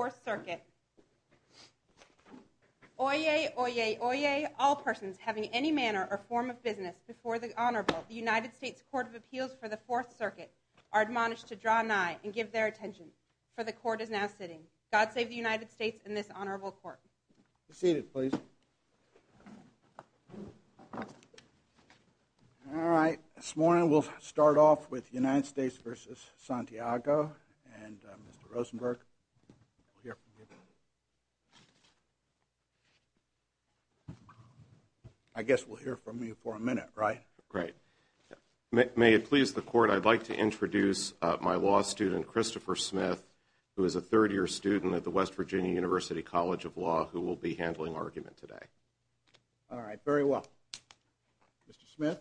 4th Circuit. Oyez, oyez, oyez, all persons having any manner or form of business before the Honorable United States Court of Appeals for the 4th Circuit are admonished to draw nigh and give their attention, for the court is now sitting. God save the United States and this Honorable Court. Seated, please. All right. This morning, we'll start off with the United States versus Santiago and Mr. Rosenberg. I guess we'll hear from you for a minute, right? Right. May it please the court, I'd like to introduce my law student, Christopher Smith, who is a third year student at the West Virginia University College of Law, who will be handling argument today. All right. Very well. Mr. Smith.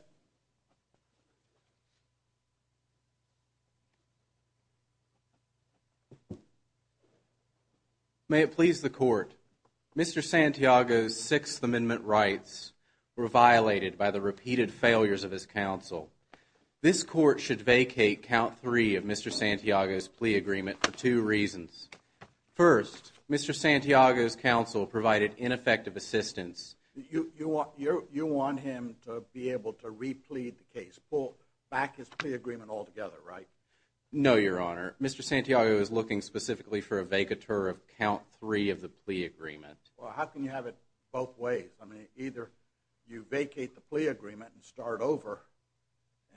May it please the court, Mr. Santiago's Sixth Amendment rights were violated by the repeated failures of his counsel. This court should vacate count three of Mr. Santiago's plea agreement for two reasons. First, Mr. Santiago's counsel provided ineffective assistance. You want him to be able to replead the case, pull back his plea agreement altogether, right? No, Your Honor. Mr. Santiago is looking specifically for a vacatur of count three of the plea agreement. Well, how can you have it both ways? I mean, either you vacate the plea agreement and start over,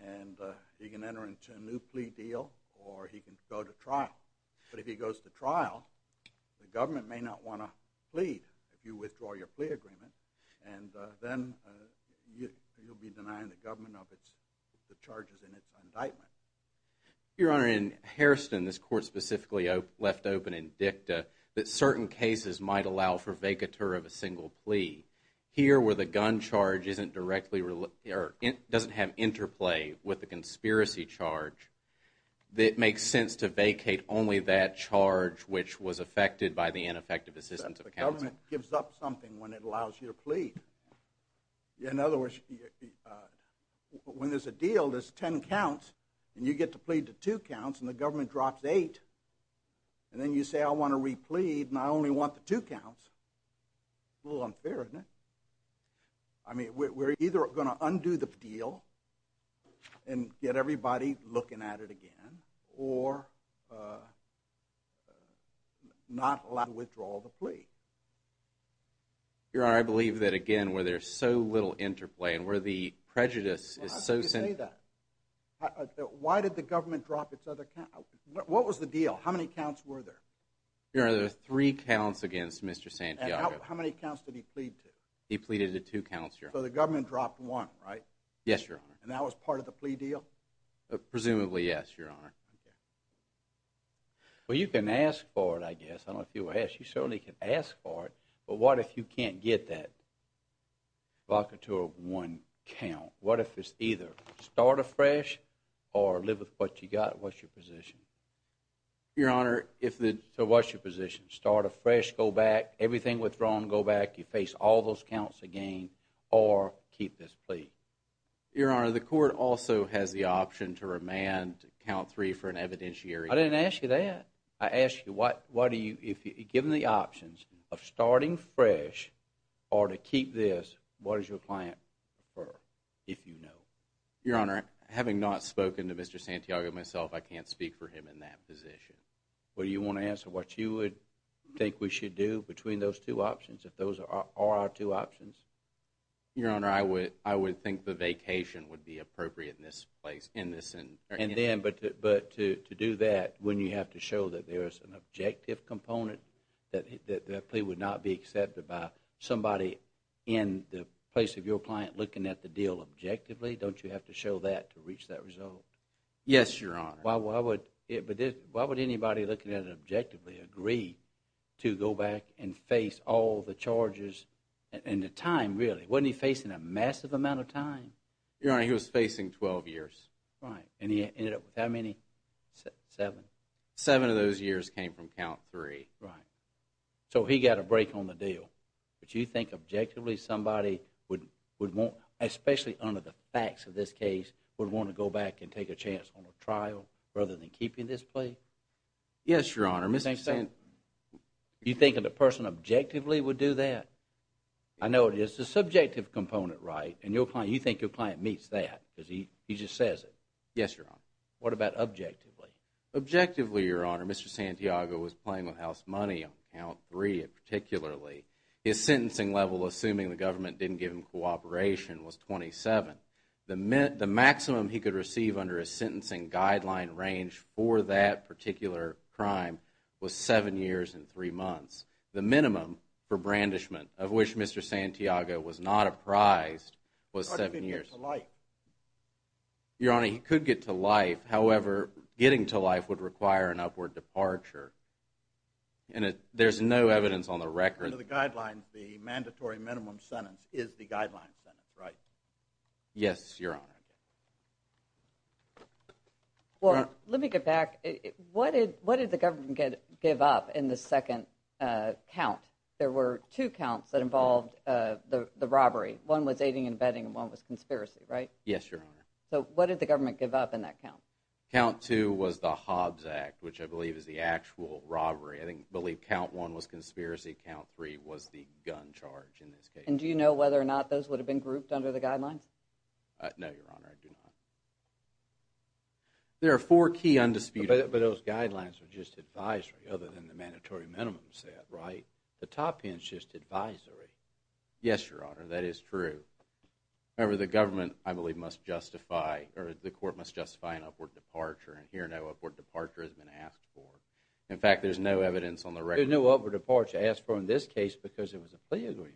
and he can enter into a new plea deal, or he can go to trial. But if he goes to trial, the government may not want to plead if you withdraw your plea agreement, and then you'll be denying the government of the charges in its indictment. Your Honor, in Hairston, this court specifically left open in dicta that certain cases might allow for vacatur of a single plea. Here, where the gun charge doesn't have interplay with the conspiracy charge, it makes sense to vacate only that charge which was affected by the ineffective assistance of counsel. But the government gives up something when it allows you to plead. In other words, when there's a deal, there's ten counts, and you get to plead to two counts, and the government drops eight. And then you say, I want to replead, and I only want the two counts. A little unfair, isn't it? I mean, we're either going to undo the deal and get everybody looking at it again, or not allow the withdrawal of the plea. Your Honor, I believe that, again, where there's so little interplay and where the prejudice is so – How can you say that? Why did the government drop its other – what was the deal? How many counts were there? Your Honor, there were three counts against Mr. Santiago. And how many counts did he plead to? He pleaded to two counts, Your Honor. So the government dropped one, right? Yes, Your Honor. And that was part of the plea deal? Presumably, yes, Your Honor. Well, you can ask for it, I guess. I don't know if you will ask. You certainly can ask for it. But what if you can't get that vacatur of one count? What if it's either start afresh or live with what you got? What's your position? Your Honor, if the – so what's your position? Start afresh, go back, everything withdrawn, go back, you face all those counts again, or keep this plea? Your Honor, the court also has the option to remand count three for an evidentiary. I didn't ask you that. I asked you why do you – given the options of starting fresh or to keep this, what does your client prefer, if you know? Your Honor, having not spoken to Mr. Santiago myself, I can't speak for him in that position. Well, do you want to answer what you would think we should do between those two options, if those are our two options? Your Honor, I would think the vacation would be appropriate in this place, in this – And then – but to do that, wouldn't you have to show that there is an objective component, that that plea would not be accepted by somebody in the place of your client looking at the deal objectively? Don't you have to show that to reach that result? Yes, Your Honor. Why would anybody looking at it objectively agree to go back and face all the charges and the time, really? Wasn't he facing a massive amount of time? Your Honor, he was facing 12 years. Right. And he ended up with how many? Seven? Seven of those years came from count three. Right. So he got a break on the deal. But you think objectively somebody would want – especially under the facts of this case – would want to go back and take a chance on a trial, rather than keeping this plea? Yes, Your Honor. You think a person objectively would do that? I know it is a subjective component, right? And you think your client meets that because he just says it? Yes, Your Honor. What about objectively? Objectively, Your Honor, Mr. Santiago was playing with house money on count three particularly. His sentencing level, assuming the government didn't give him cooperation, was 27. The maximum he could receive under a sentencing guideline range for that particular crime was seven years and three months. The minimum for brandishment, of which Mr. Santiago was not apprised, was seven years. How did he get to life? Your Honor, he could get to life. However, getting to life would require an upward departure. And there's no evidence on the record. According to the guidelines, the mandatory minimum sentence is the guideline sentence, right? Yes, Your Honor. Well, let me get back. What did the government give up in the second count? There were two counts that involved the robbery. One was aiding and abetting and one was conspiracy, right? Yes, Your Honor. So what did the government give up in that count? Count two was the Hobbs Act, which I believe is the actual robbery. I believe count one was conspiracy. Count three was the gun charge in this case. And do you know whether or not those would have been grouped under the guidelines? No, Your Honor, I do not. There are four key undisputed… But those guidelines were just advisory other than the mandatory minimum set, right? The top end is just advisory. Yes, Your Honor, that is true. However, the government, I believe, must justify or the court must justify an upward departure. And here, no upward departure has been asked for. In fact, there's no evidence on the record. There's no upward departure asked for in this case because it was a plea agreement.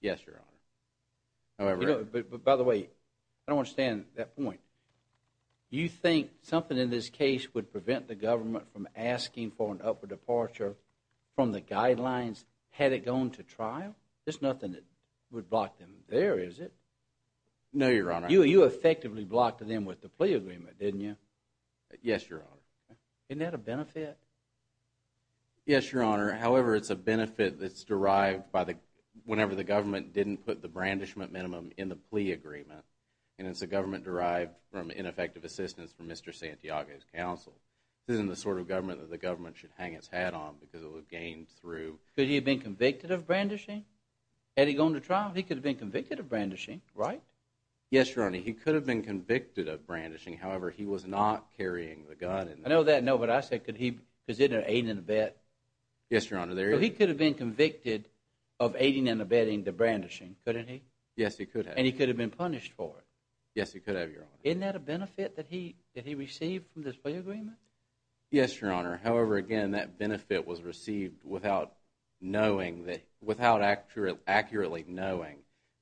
Yes, Your Honor. However… By the way, I don't understand that point. You think something in this case would prevent the government from asking for an upward departure from the guidelines had it gone to trial? There's nothing that would block them there, is it? No, Your Honor. You effectively blocked them with the plea agreement, didn't you? Yes, Your Honor. Isn't that a benefit? Yes, Your Honor. However, it's a benefit that's derived whenever the government didn't put the brandishment minimum in the plea agreement. And it's a government derived from ineffective assistance from Mr. Santiago's counsel. This isn't the sort of government that the government should hang its hat on because it would gain through… Could he have been convicted of brandishing? Had he gone to trial, he could have been convicted of brandishing, right? Yes, Your Honor. He could have been convicted of brandishing. However, he was not carrying the gun. I know that. No, but I said, could he have been convicted of aiding and abetting the brandishing? Couldn't he? Yes, he could have. And he could have been punished for it? Yes, he could have, Your Honor. Isn't that a benefit that he received from this plea agreement? Yes, Your Honor. However, again, that benefit was received without accurately knowing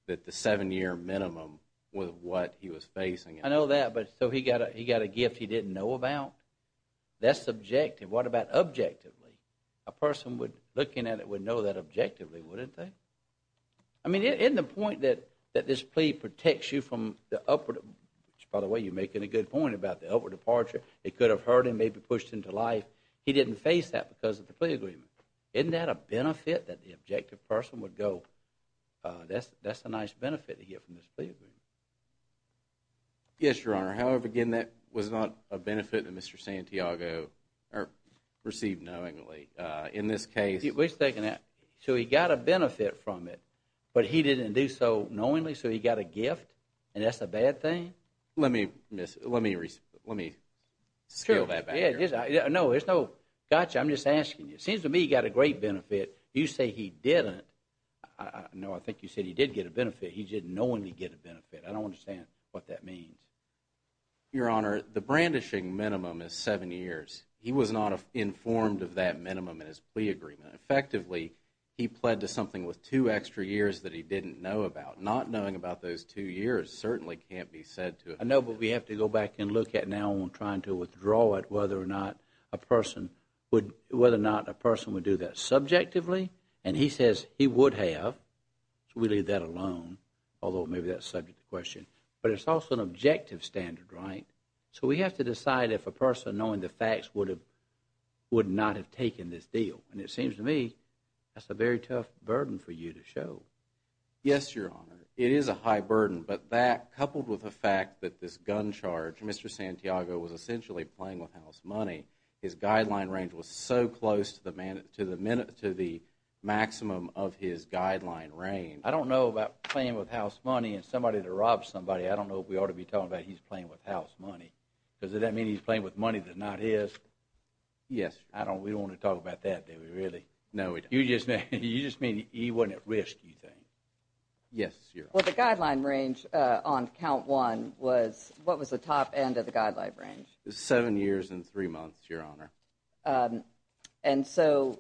that the seven-year minimum was what he was facing. I know that, but so he got a gift he didn't know about? That's subjective. What about objectively? A person looking at it would know that objectively, wouldn't they? I mean, isn't the point that this plea protects you from the upward… By the way, you're making a good point about the upward departure. It could have hurt him, maybe pushed him to life. He didn't face that because of the plea agreement. Isn't that a benefit that the objective person would go, that's a nice benefit to get from this plea agreement? Yes, Your Honor. However, again, that was not a benefit that Mr. Santiago received knowingly. In this case… Wait a second. So he got a benefit from it, but he didn't do so knowingly, so he got a gift, and that's a bad thing? Let me scale that back. Gotcha. I'm just asking you. It seems to me he got a great benefit. You say he didn't. No, I think you said he did get a benefit. He didn't knowingly get a benefit. I don't understand what that means. Your Honor, the brandishing minimum is seven years. He was not informed of that minimum in his plea agreement. Effectively, he pled to something with two extra years that he didn't know about. Not knowing about those two years certainly can't be said to… I know, but we have to go back and look at now on trying to withdraw it, whether or not a person would do that subjectively. And he says he would have, so we leave that alone, although maybe that's subject to question. But it's also an objective standard, right? So we have to decide if a person, knowing the facts, would not have taken this deal. And it seems to me that's a very tough burden for you to show. Yes, Your Honor. It is a high burden, but that, coupled with the fact that this gun charge, Mr. Santiago was essentially playing with house money, his guideline range was so close to the maximum of his guideline range. I don't know about playing with house money and somebody that robs somebody. I don't know if we ought to be talking about he's playing with house money. Does that mean he's playing with money that's not his? Yes, Your Honor. We don't want to talk about that, do we, really? No, we don't. You just mean he wasn't at risk, you think? Yes, Your Honor. Well, the guideline range on count one was, what was the top end of the guideline range? Seven years and three months, Your Honor. And so,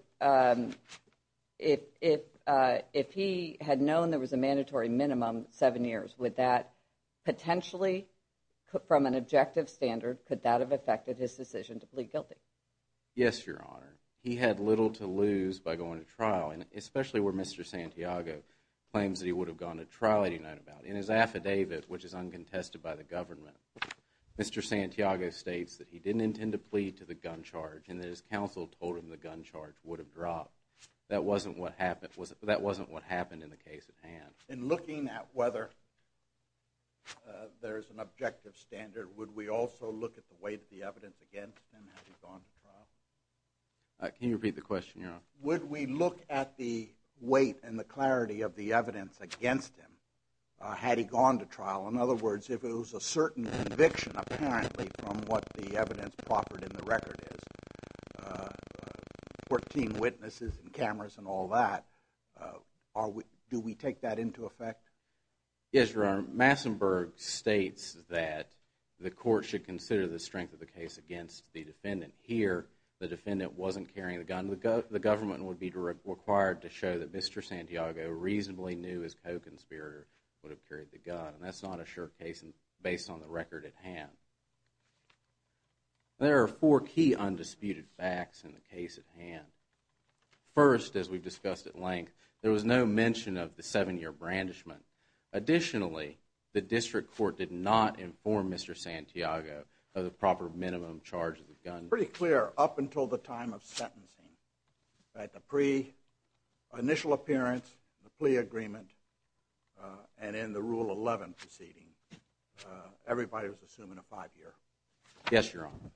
if he had known there was a mandatory minimum, seven years, would that potentially, from an objective standard, could that have affected his decision to plead guilty? Yes, Your Honor. He had little to lose by going to trial, and especially where Mr. Santiago claims that he would have gone to trial, he didn't know about. In his affidavit, which is uncontested by the government, Mr. Santiago states that he didn't intend to plead to the gun charge, and that his counsel told him the gun charge would have dropped. That wasn't what happened in the case at hand. In looking at whether there is an objective standard, would we also look at the weight of the evidence against him had he gone to trial? Can you repeat the question, Your Honor? Would we look at the weight and the clarity of the evidence against him had he gone to trial? In other words, if it was a certain conviction, apparently, from what the evidence proffered in the record is, 14 witnesses and cameras and all that, do we take that into effect? Yes, Your Honor. Massenburg states that the court should consider the strength of the case against the defendant. Here, the defendant wasn't carrying the gun. The government would be required to show that Mr. Santiago reasonably knew his co-conspirator would have carried the gun, and that's not a sure case based on the record at hand. There are four key undisputed facts in the case at hand. First, as we've discussed at length, there was no mention of the seven-year brandishment. Additionally, the district court did not inform Mr. Santiago of the proper minimum charge of the gun. Pretty clear up until the time of sentencing. At the pre-initial appearance, the plea agreement, and in the Rule 11 proceeding, everybody was assuming a five-year. Yes, Your Honor.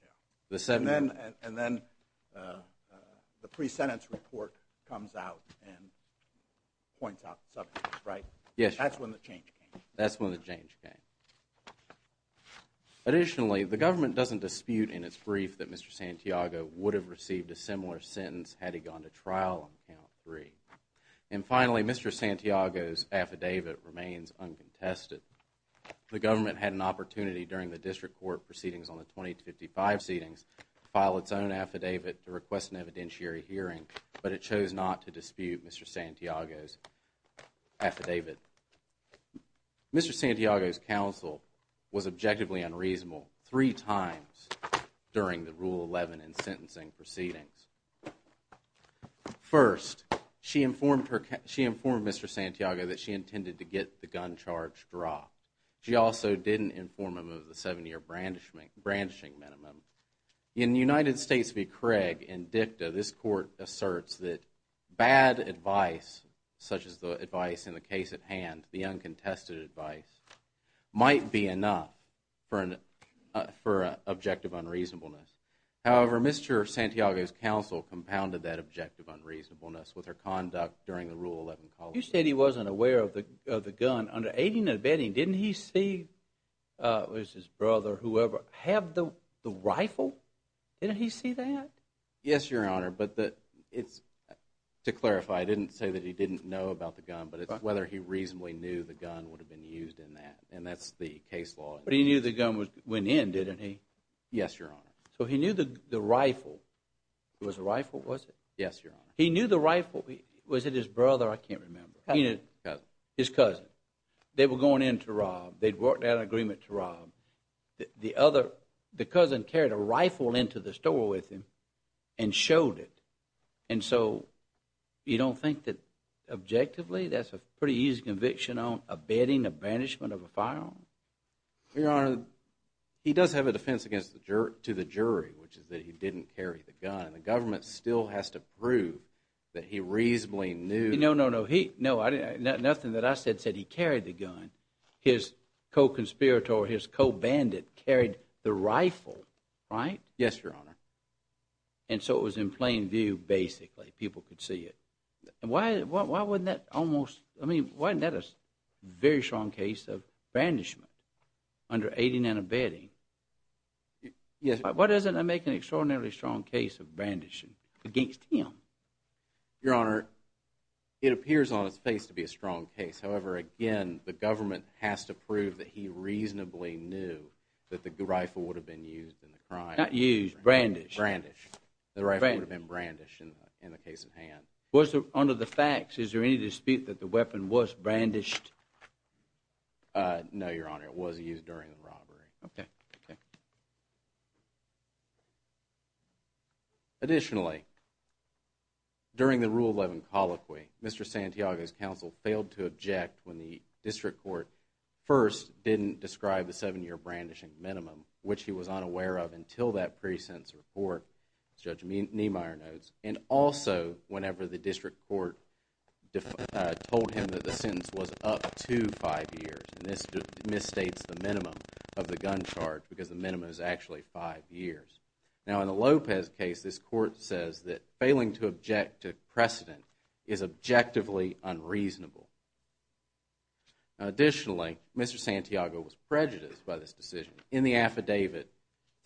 And then the pre-sentence report comes out and points out the seven years, right? Yes, Your Honor. That's when the change came. That's when the change came. Additionally, the government doesn't dispute in its brief that Mr. Santiago would have received a similar sentence had he gone to trial on count three. And finally, Mr. Santiago's affidavit remains uncontested. The government had an opportunity during the district court proceedings on the 2055 proceedings to file its own affidavit to request an evidentiary hearing, but it chose not to dispute Mr. Santiago's affidavit. Mr. Santiago's counsel was objectively unreasonable three times during the Rule 11 and sentencing proceedings. First, she informed Mr. Santiago that she intended to get the gun charge dropped. She also didn't inform him of the seven-year brandishing minimum. In United States v. Craig and dicta, this court asserts that bad advice, such as the advice in the case at hand, the uncontested advice, might be enough for objective unreasonableness. However, Mr. Santiago's counsel compounded that objective unreasonableness with her conduct during the Rule 11. You said he wasn't aware of the gun. Under 18 and abetting, didn't he see his brother, whoever, have the rifle? Didn't he see that? Yes, Your Honor, but to clarify, I didn't say that he didn't know about the gun, but it's whether he reasonably knew the gun would have been used in that, and that's the case law. But he knew the gun went in, didn't he? Yes, Your Honor. So he knew the rifle. It was a rifle, was it? Yes, Your Honor. He knew the rifle. Was it his brother? I can't remember. Cousin. His cousin. They were going in to rob. They'd worked out an agreement to rob. The cousin carried a rifle into the store with him and showed it. And so you don't think that objectively that's a pretty easy conviction on abetting the banishment of a firearm? Your Honor, he does have a defense to the jury, which is that he didn't carry the gun. The government still has to prove that he reasonably knew. No, no, no. Nothing that I said said he carried the gun. His co-conspirator or his co-bandit carried the rifle, right? Yes, Your Honor. And so it was in plain view, basically. People could see it. Why wasn't that a very strong case of banishment under aiding and abetting? Why doesn't that make an extraordinarily strong case of brandishing against him? Your Honor, it appears on its face to be a strong case. However, again, the government has to prove that he reasonably knew that the rifle would have been used in the crime. Not used. Brandished. Brandished. The rifle would have been brandished in the case at hand. Under the facts, is there any dispute that the weapon was brandished? No, Your Honor. It was used during the robbery. Okay. Okay. Additionally, during the Rule 11 colloquy, Mr. Santiago's counsel failed to object when the district court first didn't describe the seven-year brandishing minimum, which he was unaware of until that pre-sentence report, as Judge Niemeyer notes, and also whenever the district court told him that the sentence was up to five years. And this misstates the minimum of the gun charge because the minimum is actually five years. Now, in the Lopez case, this court says that failing to object to precedent is objectively unreasonable. Additionally, Mr. Santiago was prejudiced by this decision. In the affidavit,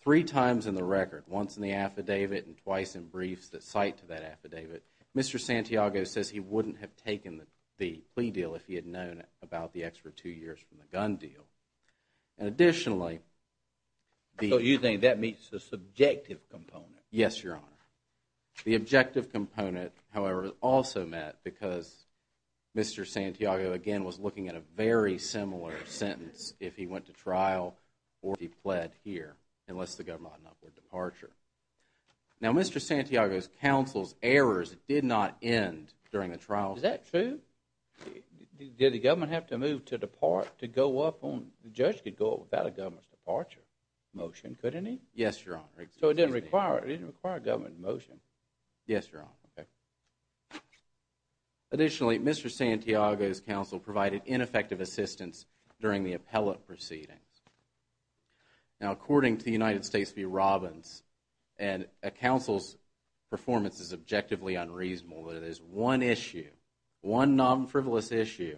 three times in the record, once in the affidavit and twice in briefs that cite to that affidavit, Mr. Santiago says he wouldn't have taken the plea deal if he had known about the extra two years from the gun deal. And additionally, the So you think that meets the subjective component? Yes, Your Honor. The objective component, however, also met because Mr. Santiago, again, was looking at a very similar sentence if he went to trial or if he pled here, unless the government allowed an upward departure. Now, Mr. Santiago's counsel's errors did not end during the trial. Is that true? Did the government have to move to go up on – the judge could go up without a government's departure motion, couldn't he? Yes, Your Honor. So it didn't require a government motion? Yes, Your Honor. Okay. Additionally, Mr. Santiago's counsel provided ineffective assistance during the appellate proceedings. Now, according to the United States v. Robbins, a counsel's performance is objectively unreasonable. There is one issue, one non-frivolous issue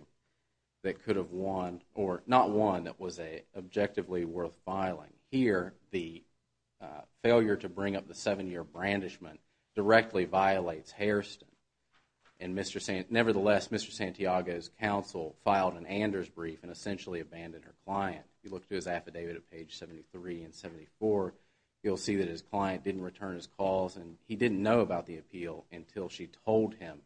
that could have won – or not won, that was objectively worth filing. Here, the failure to bring up the seven-year brandishment directly violates Hairston. And Mr. – nevertheless, Mr. Santiago's counsel filed an Anders brief and essentially abandoned her client. If you look to his affidavit at page 73 and 74, you'll see that his client didn't return his calls and he didn't know about the appeal until she told him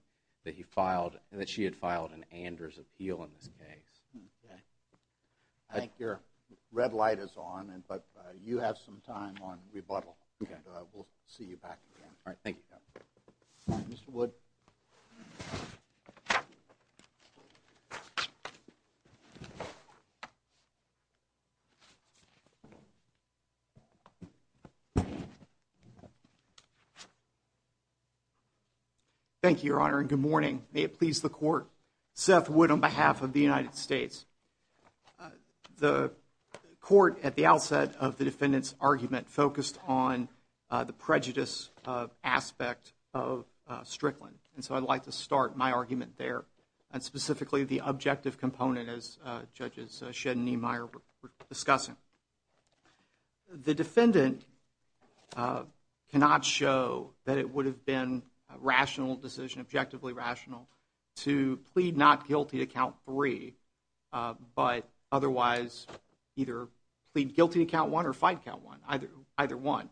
that he filed – that she had filed an Anders appeal in this case. Okay. I think your red light is on, but you have some time on rebuttal. Okay. And we'll see you back again. All right. Thank you, Your Honor. Mr. Wood. Thank you, Your Honor, and good morning. May it please the Court. Seth Wood on behalf of the United States. The Court, at the outset of the defendant's argument, focused on the prejudice aspect of Strickland. And so I'd like to start my argument there, and specifically the objective component, as Judges Shedd and Niemeyer were discussing. The defendant cannot show that it would have been a rational decision, objectively rational, to plead not guilty to Count 3, but otherwise either plead guilty to Count 1 or fight Count 1, either one.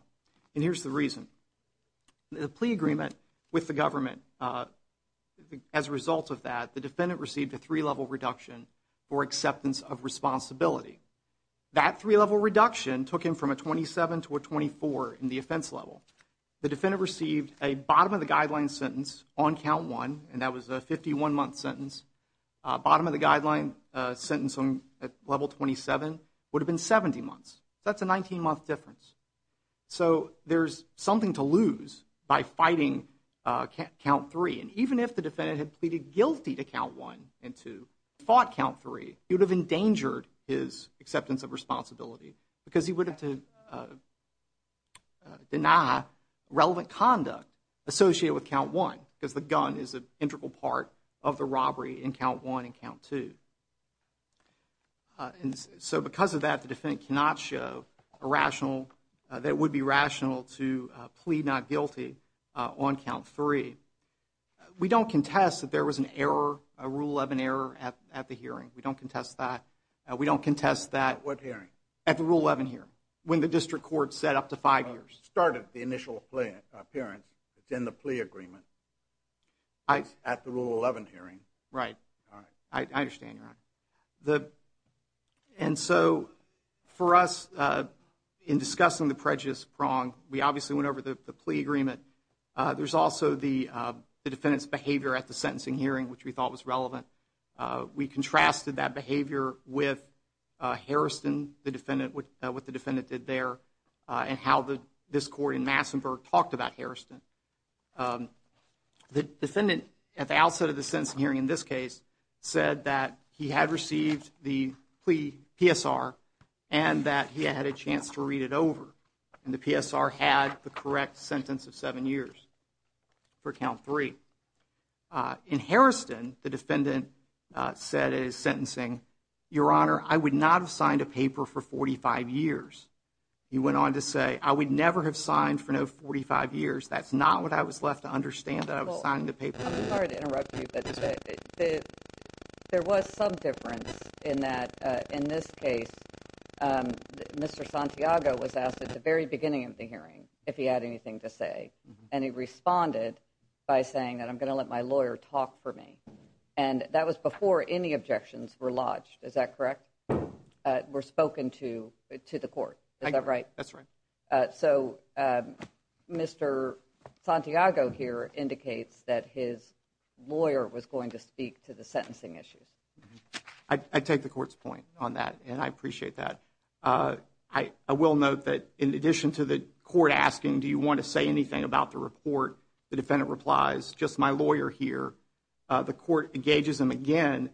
And here's the reason. The plea agreement with the government, as a result of that, the defendant received a three-level reduction for acceptance of responsibility. That three-level reduction took him from a 27 to a 24 in the offense level. The defendant received a bottom-of-the-guideline sentence on Count 1, and that was a 51-month sentence. Bottom-of-the-guideline sentence on Level 27 would have been 70 months. That's a 19-month difference. So there's something to lose by fighting Count 3. And even if the defendant had pleaded guilty to Count 1 and to fought Count 3, he would have endangered his acceptance of responsibility, because he would have to deny relevant conduct associated with Count 1, because the gun is an integral part of the robbery in Count 1 and Count 2. So because of that, the defendant cannot show a rational, that it would be rational to plead not guilty on Count 3. We don't contest that there was an error, a Rule 11 error at the hearing. We don't contest that. We don't contest that. At what hearing? At the Rule 11 hearing, when the district court set up to five years. It started the initial appearance. It's in the plea agreement. It's at the Rule 11 hearing. Right. All right. I understand, Your Honor. And so for us, in discussing the prejudice prong, we obviously went over the plea agreement. There's also the defendant's behavior at the sentencing hearing, which we thought was relevant. We contrasted that behavior with Harrison, what the defendant did there, and how this court in Massenburg talked about Harrison. The defendant, at the outset of the sentencing hearing in this case, said that he had received the plea PSR and that he had a chance to read it over. And the PSR had the correct sentence of seven years for Count 3. In Harrison, the defendant said in his sentencing, Your Honor, I would not have signed a paper for 45 years. He went on to say, I would never have signed for no 45 years. That's not what I was left to understand that I was signing the paper. I'm sorry to interrupt you, but there was some difference in that, in this case, Mr. Santiago was asked at the very beginning of the hearing if he had anything to say. And he responded by saying that I'm going to let my lawyer talk for me. And that was before any objections were lodged. Is that correct? Were spoken to to the court. Is that right? That's right. So, Mr. Santiago here indicates that his lawyer was going to speak to the sentencing issues. I take the court's point on that, and I appreciate that. I will note that in addition to the court asking, do you want to say anything about the report? The defendant replies, just my lawyer here. The court engages him again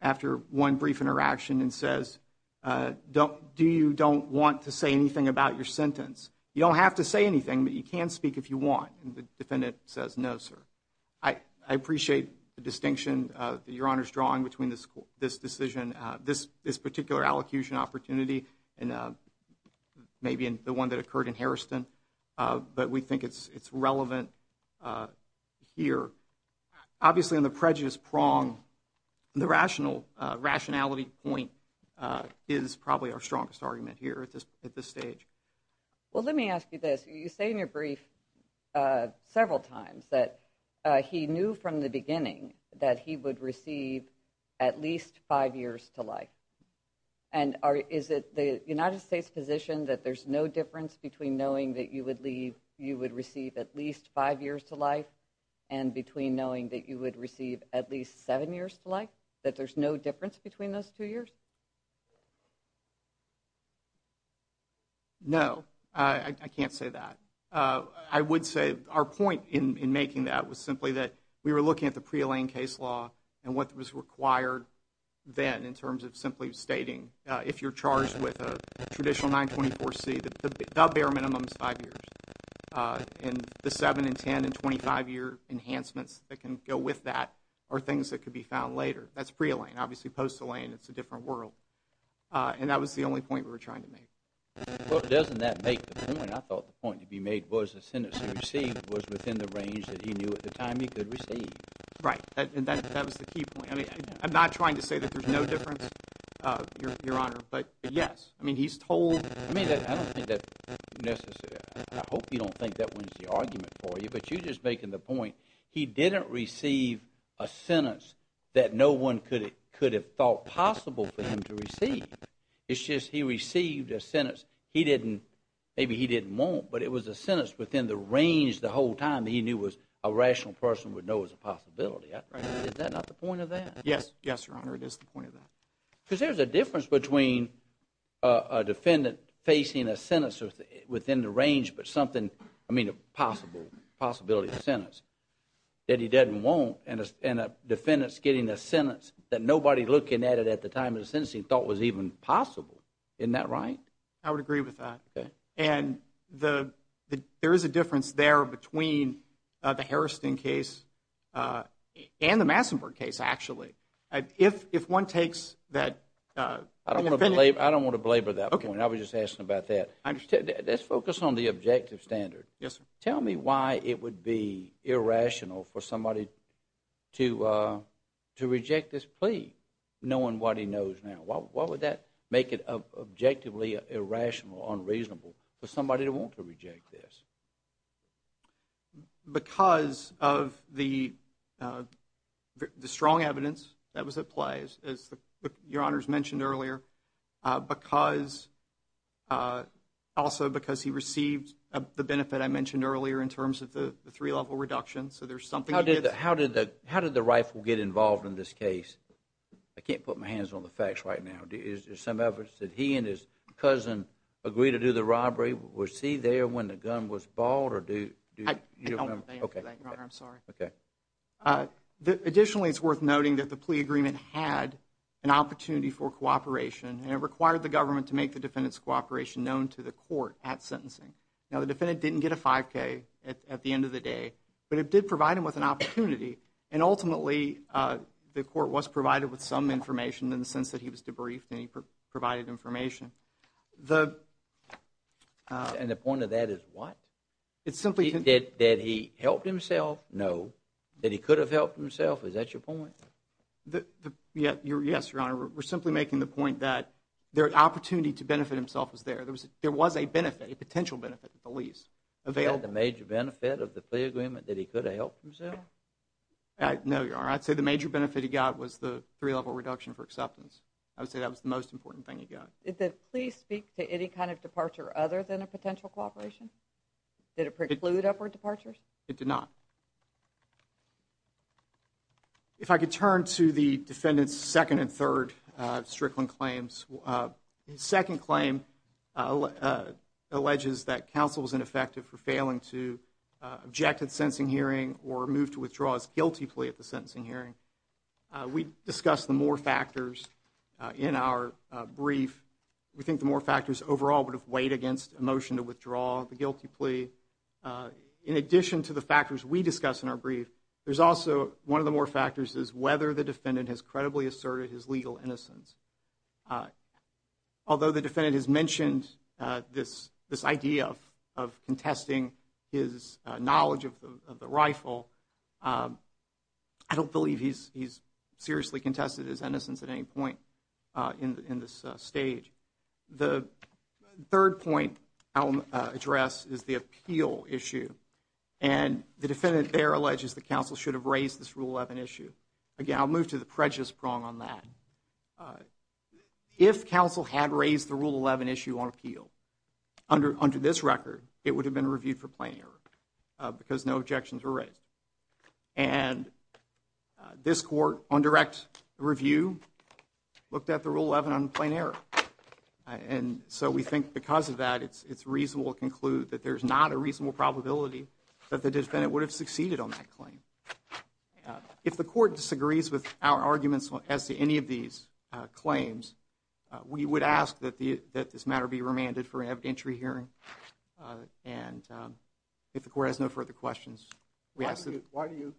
after one brief interaction and says, do you don't want to say anything about your sentence? You don't have to say anything, but you can speak if you want. And the defendant says, no, sir. I appreciate the distinction that Your Honor's drawing between this decision, this particular allocution opportunity, and maybe the one that occurred in Harrison. But we think it's relevant here. Obviously, on the prejudice prong, the rationality point is probably our strongest argument here at this stage. Well, let me ask you this. You say in your brief several times that he knew from the beginning that he would receive at least five years to life. And is it the United States' position that there's no difference between knowing that you would receive at least five years to life and between knowing that you would receive at least seven years to life, that there's no difference between those two years? No, I can't say that. I would say our point in making that was simply that we were looking at the prealigned case law and what was required then in terms of simply stating, if you're charged with a traditional 924C, the bare minimum is five years. And the seven and ten and 25-year enhancements that can go with that are things that could be found later. That's prealigned. Obviously, post-aligned, it's a different world. And that was the only point we were trying to make. Well, doesn't that make the point? I thought the point to be made was the sentence he received was within the range that he knew at the time he could receive. Right. And that was the key point. I mean, I'm not trying to say that there's no difference, Your Honor, but yes. I mean, he's told – I mean, I don't think that's necessary. I hope you don't think that wins the argument for you. But you're just making the point he didn't receive a sentence that no one could have thought possible for him to receive. It's just he received a sentence he didn't – maybe he didn't want, but it was a sentence within the range the whole time that he knew was a rational person would know was a possibility. Right. Is that not the point of that? Yes. Yes, Your Honor, it is the point of that. Because there's a difference between a defendant facing a sentence within the range but something – I mean, a possible possibility of a sentence that he doesn't want and a defendant's getting a sentence that nobody looking at it at the time of the sentencing thought was even possible. Isn't that right? I would agree with that. Okay. And there is a difference there between the Harrison case and the Massenburg case, actually. If one takes that – I don't want to belabor that point. I was just asking about that. I understand. Let's focus on the objective standard. Yes, sir. Tell me why it would be irrational for somebody to reject this plea knowing what he knows now. Why would that make it objectively irrational or unreasonable for somebody to want to reject this? Because of the strong evidence that was at play, as Your Honors mentioned earlier, also because he received the benefit I mentioned earlier in terms of the three-level reduction. So there's something – How did the rifle get involved in this case? I can't put my hands on the facts right now. Is there some evidence that he and his cousin agreed to do the robbery? Was he there when the gun was bought? I don't have the answer to that, Your Honor. I'm sorry. Okay. Additionally, it's worth noting that the plea agreement had an opportunity for cooperation, and it required the government to make the defendant's cooperation known to the court at sentencing. Now, the defendant didn't get a 5K at the end of the day, but it did provide him with an opportunity, and ultimately the court was provided with some information in the sense that he was debriefed and he provided information. And the point of that is what? It simply – Did he help himself? No. Did he could have helped himself? Is that your point? Yes, Your Honor. We're simply making the point that the opportunity to benefit himself was there. There was a benefit, a potential benefit, at the lease. Was that the major benefit of the plea agreement, that he could have helped himself? No, Your Honor. I'd say the major benefit he got was the three-level reduction for acceptance. I would say that was the most important thing he got. Did the plea speak to any kind of departure other than a potential cooperation? Did it preclude upward departures? It did not. If I could turn to the defendant's second and third Strickland claims. His second claim alleges that counsel was ineffective for failing to object at the sentencing hearing or move to withdraw his guilty plea at the sentencing hearing. We discussed the more factors in our brief. We think the more factors overall would have weighed against a motion to withdraw the guilty plea. In addition to the factors we discussed in our brief, there's also one of the more factors is whether the defendant has credibly asserted his legal innocence. Although the defendant has mentioned this idea of contesting his knowledge of the rifle, I don't believe he's seriously contested his innocence at any point in this stage. The third point I'll address is the appeal issue. And the defendant there alleges that counsel should have raised this Rule 11 issue. Again, I'll move to the prejudice prong on that. If counsel had raised the Rule 11 issue on appeal under this record, it would have been reviewed for plain error because no objections were raised. And this court on direct review looked at the Rule 11 on plain error. And so we think because of that, it's reasonable to conclude that there's not a reasonable probability that the defendant would have succeeded on that claim. If the court disagrees with our arguments as to any of these claims, we would ask that this matter be remanded for an evidentiary hearing. And if the court has no further questions, we ask that... Why do you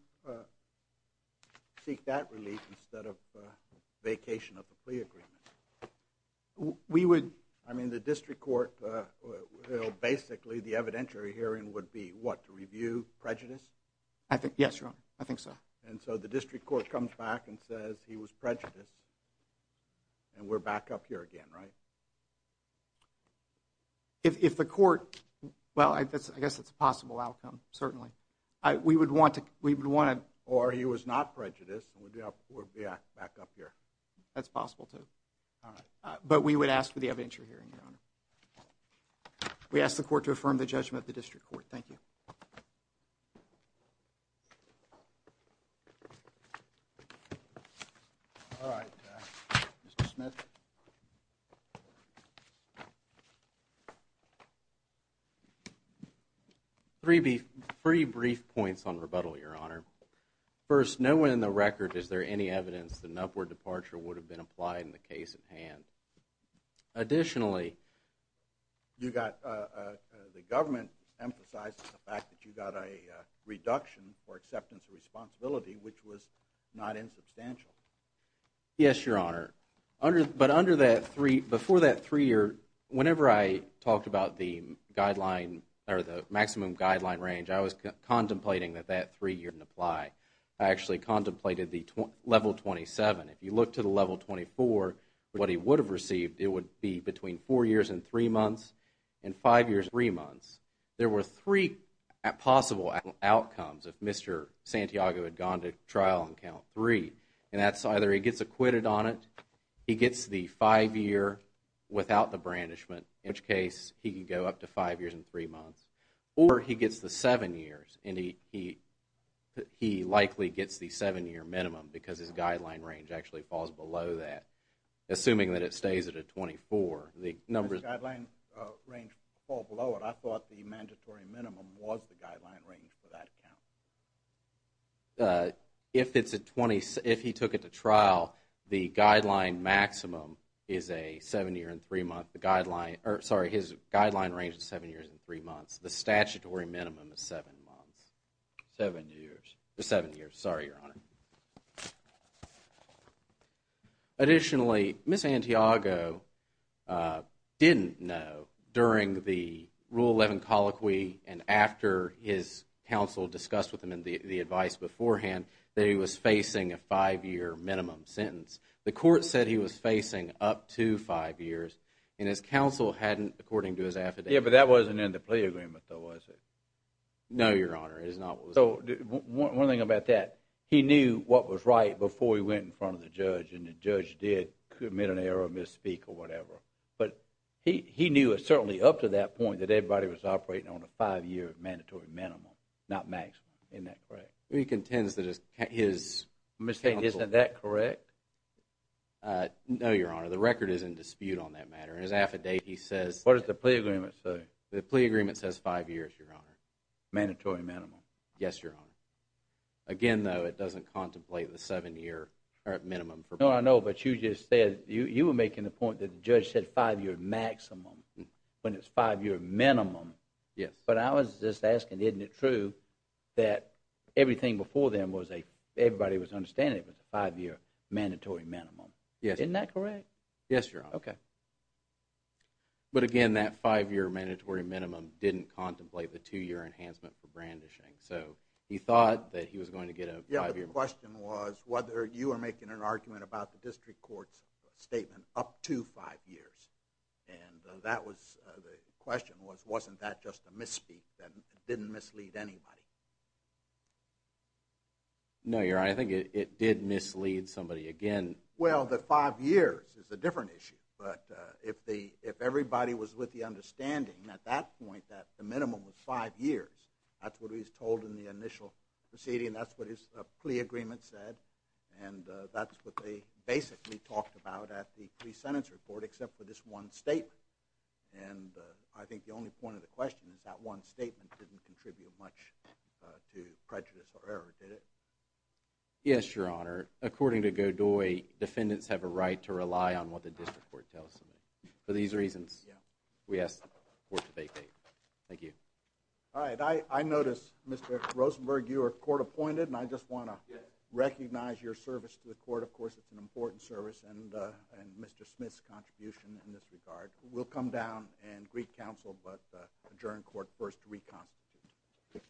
seek that relief instead of vacation of the plea agreement? We would... I mean, the district court will basically, the evidentiary hearing would be what? To review prejudice? Yes, Your Honor. I think so. And so the district court comes back and says he was prejudiced, and we're back up here again, right? If the court... Well, I guess it's a possible outcome, certainly. We would want to... Or he was not prejudiced, and we'd be back up here. That's possible too. But we would ask for the evidentiary hearing, Your Honor. We ask the court to affirm the judgment of the district court. Thank you. All right. Mr. Smith? Three brief points on rebuttal, Your Honor. First, nowhere in the record is there any evidence that an upward departure would have been applied in the case at hand. Additionally, you got... The government emphasizes the fact that you got a reduction for acceptance of responsibility, which was not insubstantial. Yes, Your Honor. But under that three... Before that three-year, whenever I talked about the guideline or the maximum guideline range, I was contemplating that that three-year didn't apply. I actually contemplated the level 27. If you look to the level 24, what he would have received, it would be between four years and three months, and five years and three months. There were three possible outcomes if Mr. Santiago had gone to trial on count three, and that's either he gets acquitted on it, he gets the five-year without the brandishment, in which case he could go up to five years and three months, or he gets the seven years, and he likely gets the seven-year minimum because his guideline range actually falls below that, assuming that it stays at a 24. His guideline range falls below it. I thought the mandatory minimum was the guideline range for that count. If he took it to trial, the guideline maximum is a seven-year and three-month. Sorry, his guideline range is seven years and three months. The statutory minimum is seven months. Seven years. Seven years, sorry, Your Honor. Additionally, Ms. Santiago didn't know during the Rule 11 colloquy and after his counsel discussed with him the advice beforehand that he was facing a five-year minimum sentence. The court said he was facing up to five years, and his counsel hadn't, according to his affidavit... Yeah, but that wasn't in the plea agreement, though, was it? No, Your Honor, it is not. So one thing about that, he knew what was right before he went in front of the judge, and the judge did commit an error or misspeak or whatever, but he knew certainly up to that point that everybody was operating on a five-year mandatory minimum, not maximum. Isn't that correct? He contends that his counsel... Ms. Santiago, isn't that correct? No, Your Honor, the record is in dispute on that matter. His affidavit says... What does the plea agreement say? The plea agreement says five years, Your Honor. Mandatory minimum. Yes, Your Honor. Again, though, it doesn't contemplate the seven-year minimum for... No, I know, but you just said... You were making the point that the judge said five-year maximum when it's five-year minimum. Yes. But I was just asking, isn't it true that everything before then was a... Everybody was understanding it was a five-year mandatory minimum. Yes. Isn't that correct? Yes, Your Honor. Okay. But again, that five-year mandatory minimum didn't contemplate the two-year enhancement for brandishing. So he thought that he was going to get a five-year... Yes, but the question was whether you were making an argument about the district court's statement up to five years. And that was... The question was, wasn't that just a misspeak that didn't mislead anybody? No, Your Honor, I think it did mislead somebody. Again... Well, the five years is a different issue. But if everybody was with the understanding at that point that the minimum was five years, that's what he was told in the initial proceeding. That's what his plea agreement said. And that's what they basically talked about at the pre-sentence report except for this one statement. And I think the only point of the question is that one statement didn't contribute much to prejudice or error, did it? Yes, Your Honor. According to Godoy, defendants have a right to rely on what the district court tells them. For these reasons, we ask the court to vacate. Thank you. All right. I notice, Mr. Rosenberg, you are court appointed. And I just want to recognize your service to the court. Of course, it's an important service and Mr. Smith's contribution in this regard. We'll come down and greet counsel, but adjourn court first to reconstitute.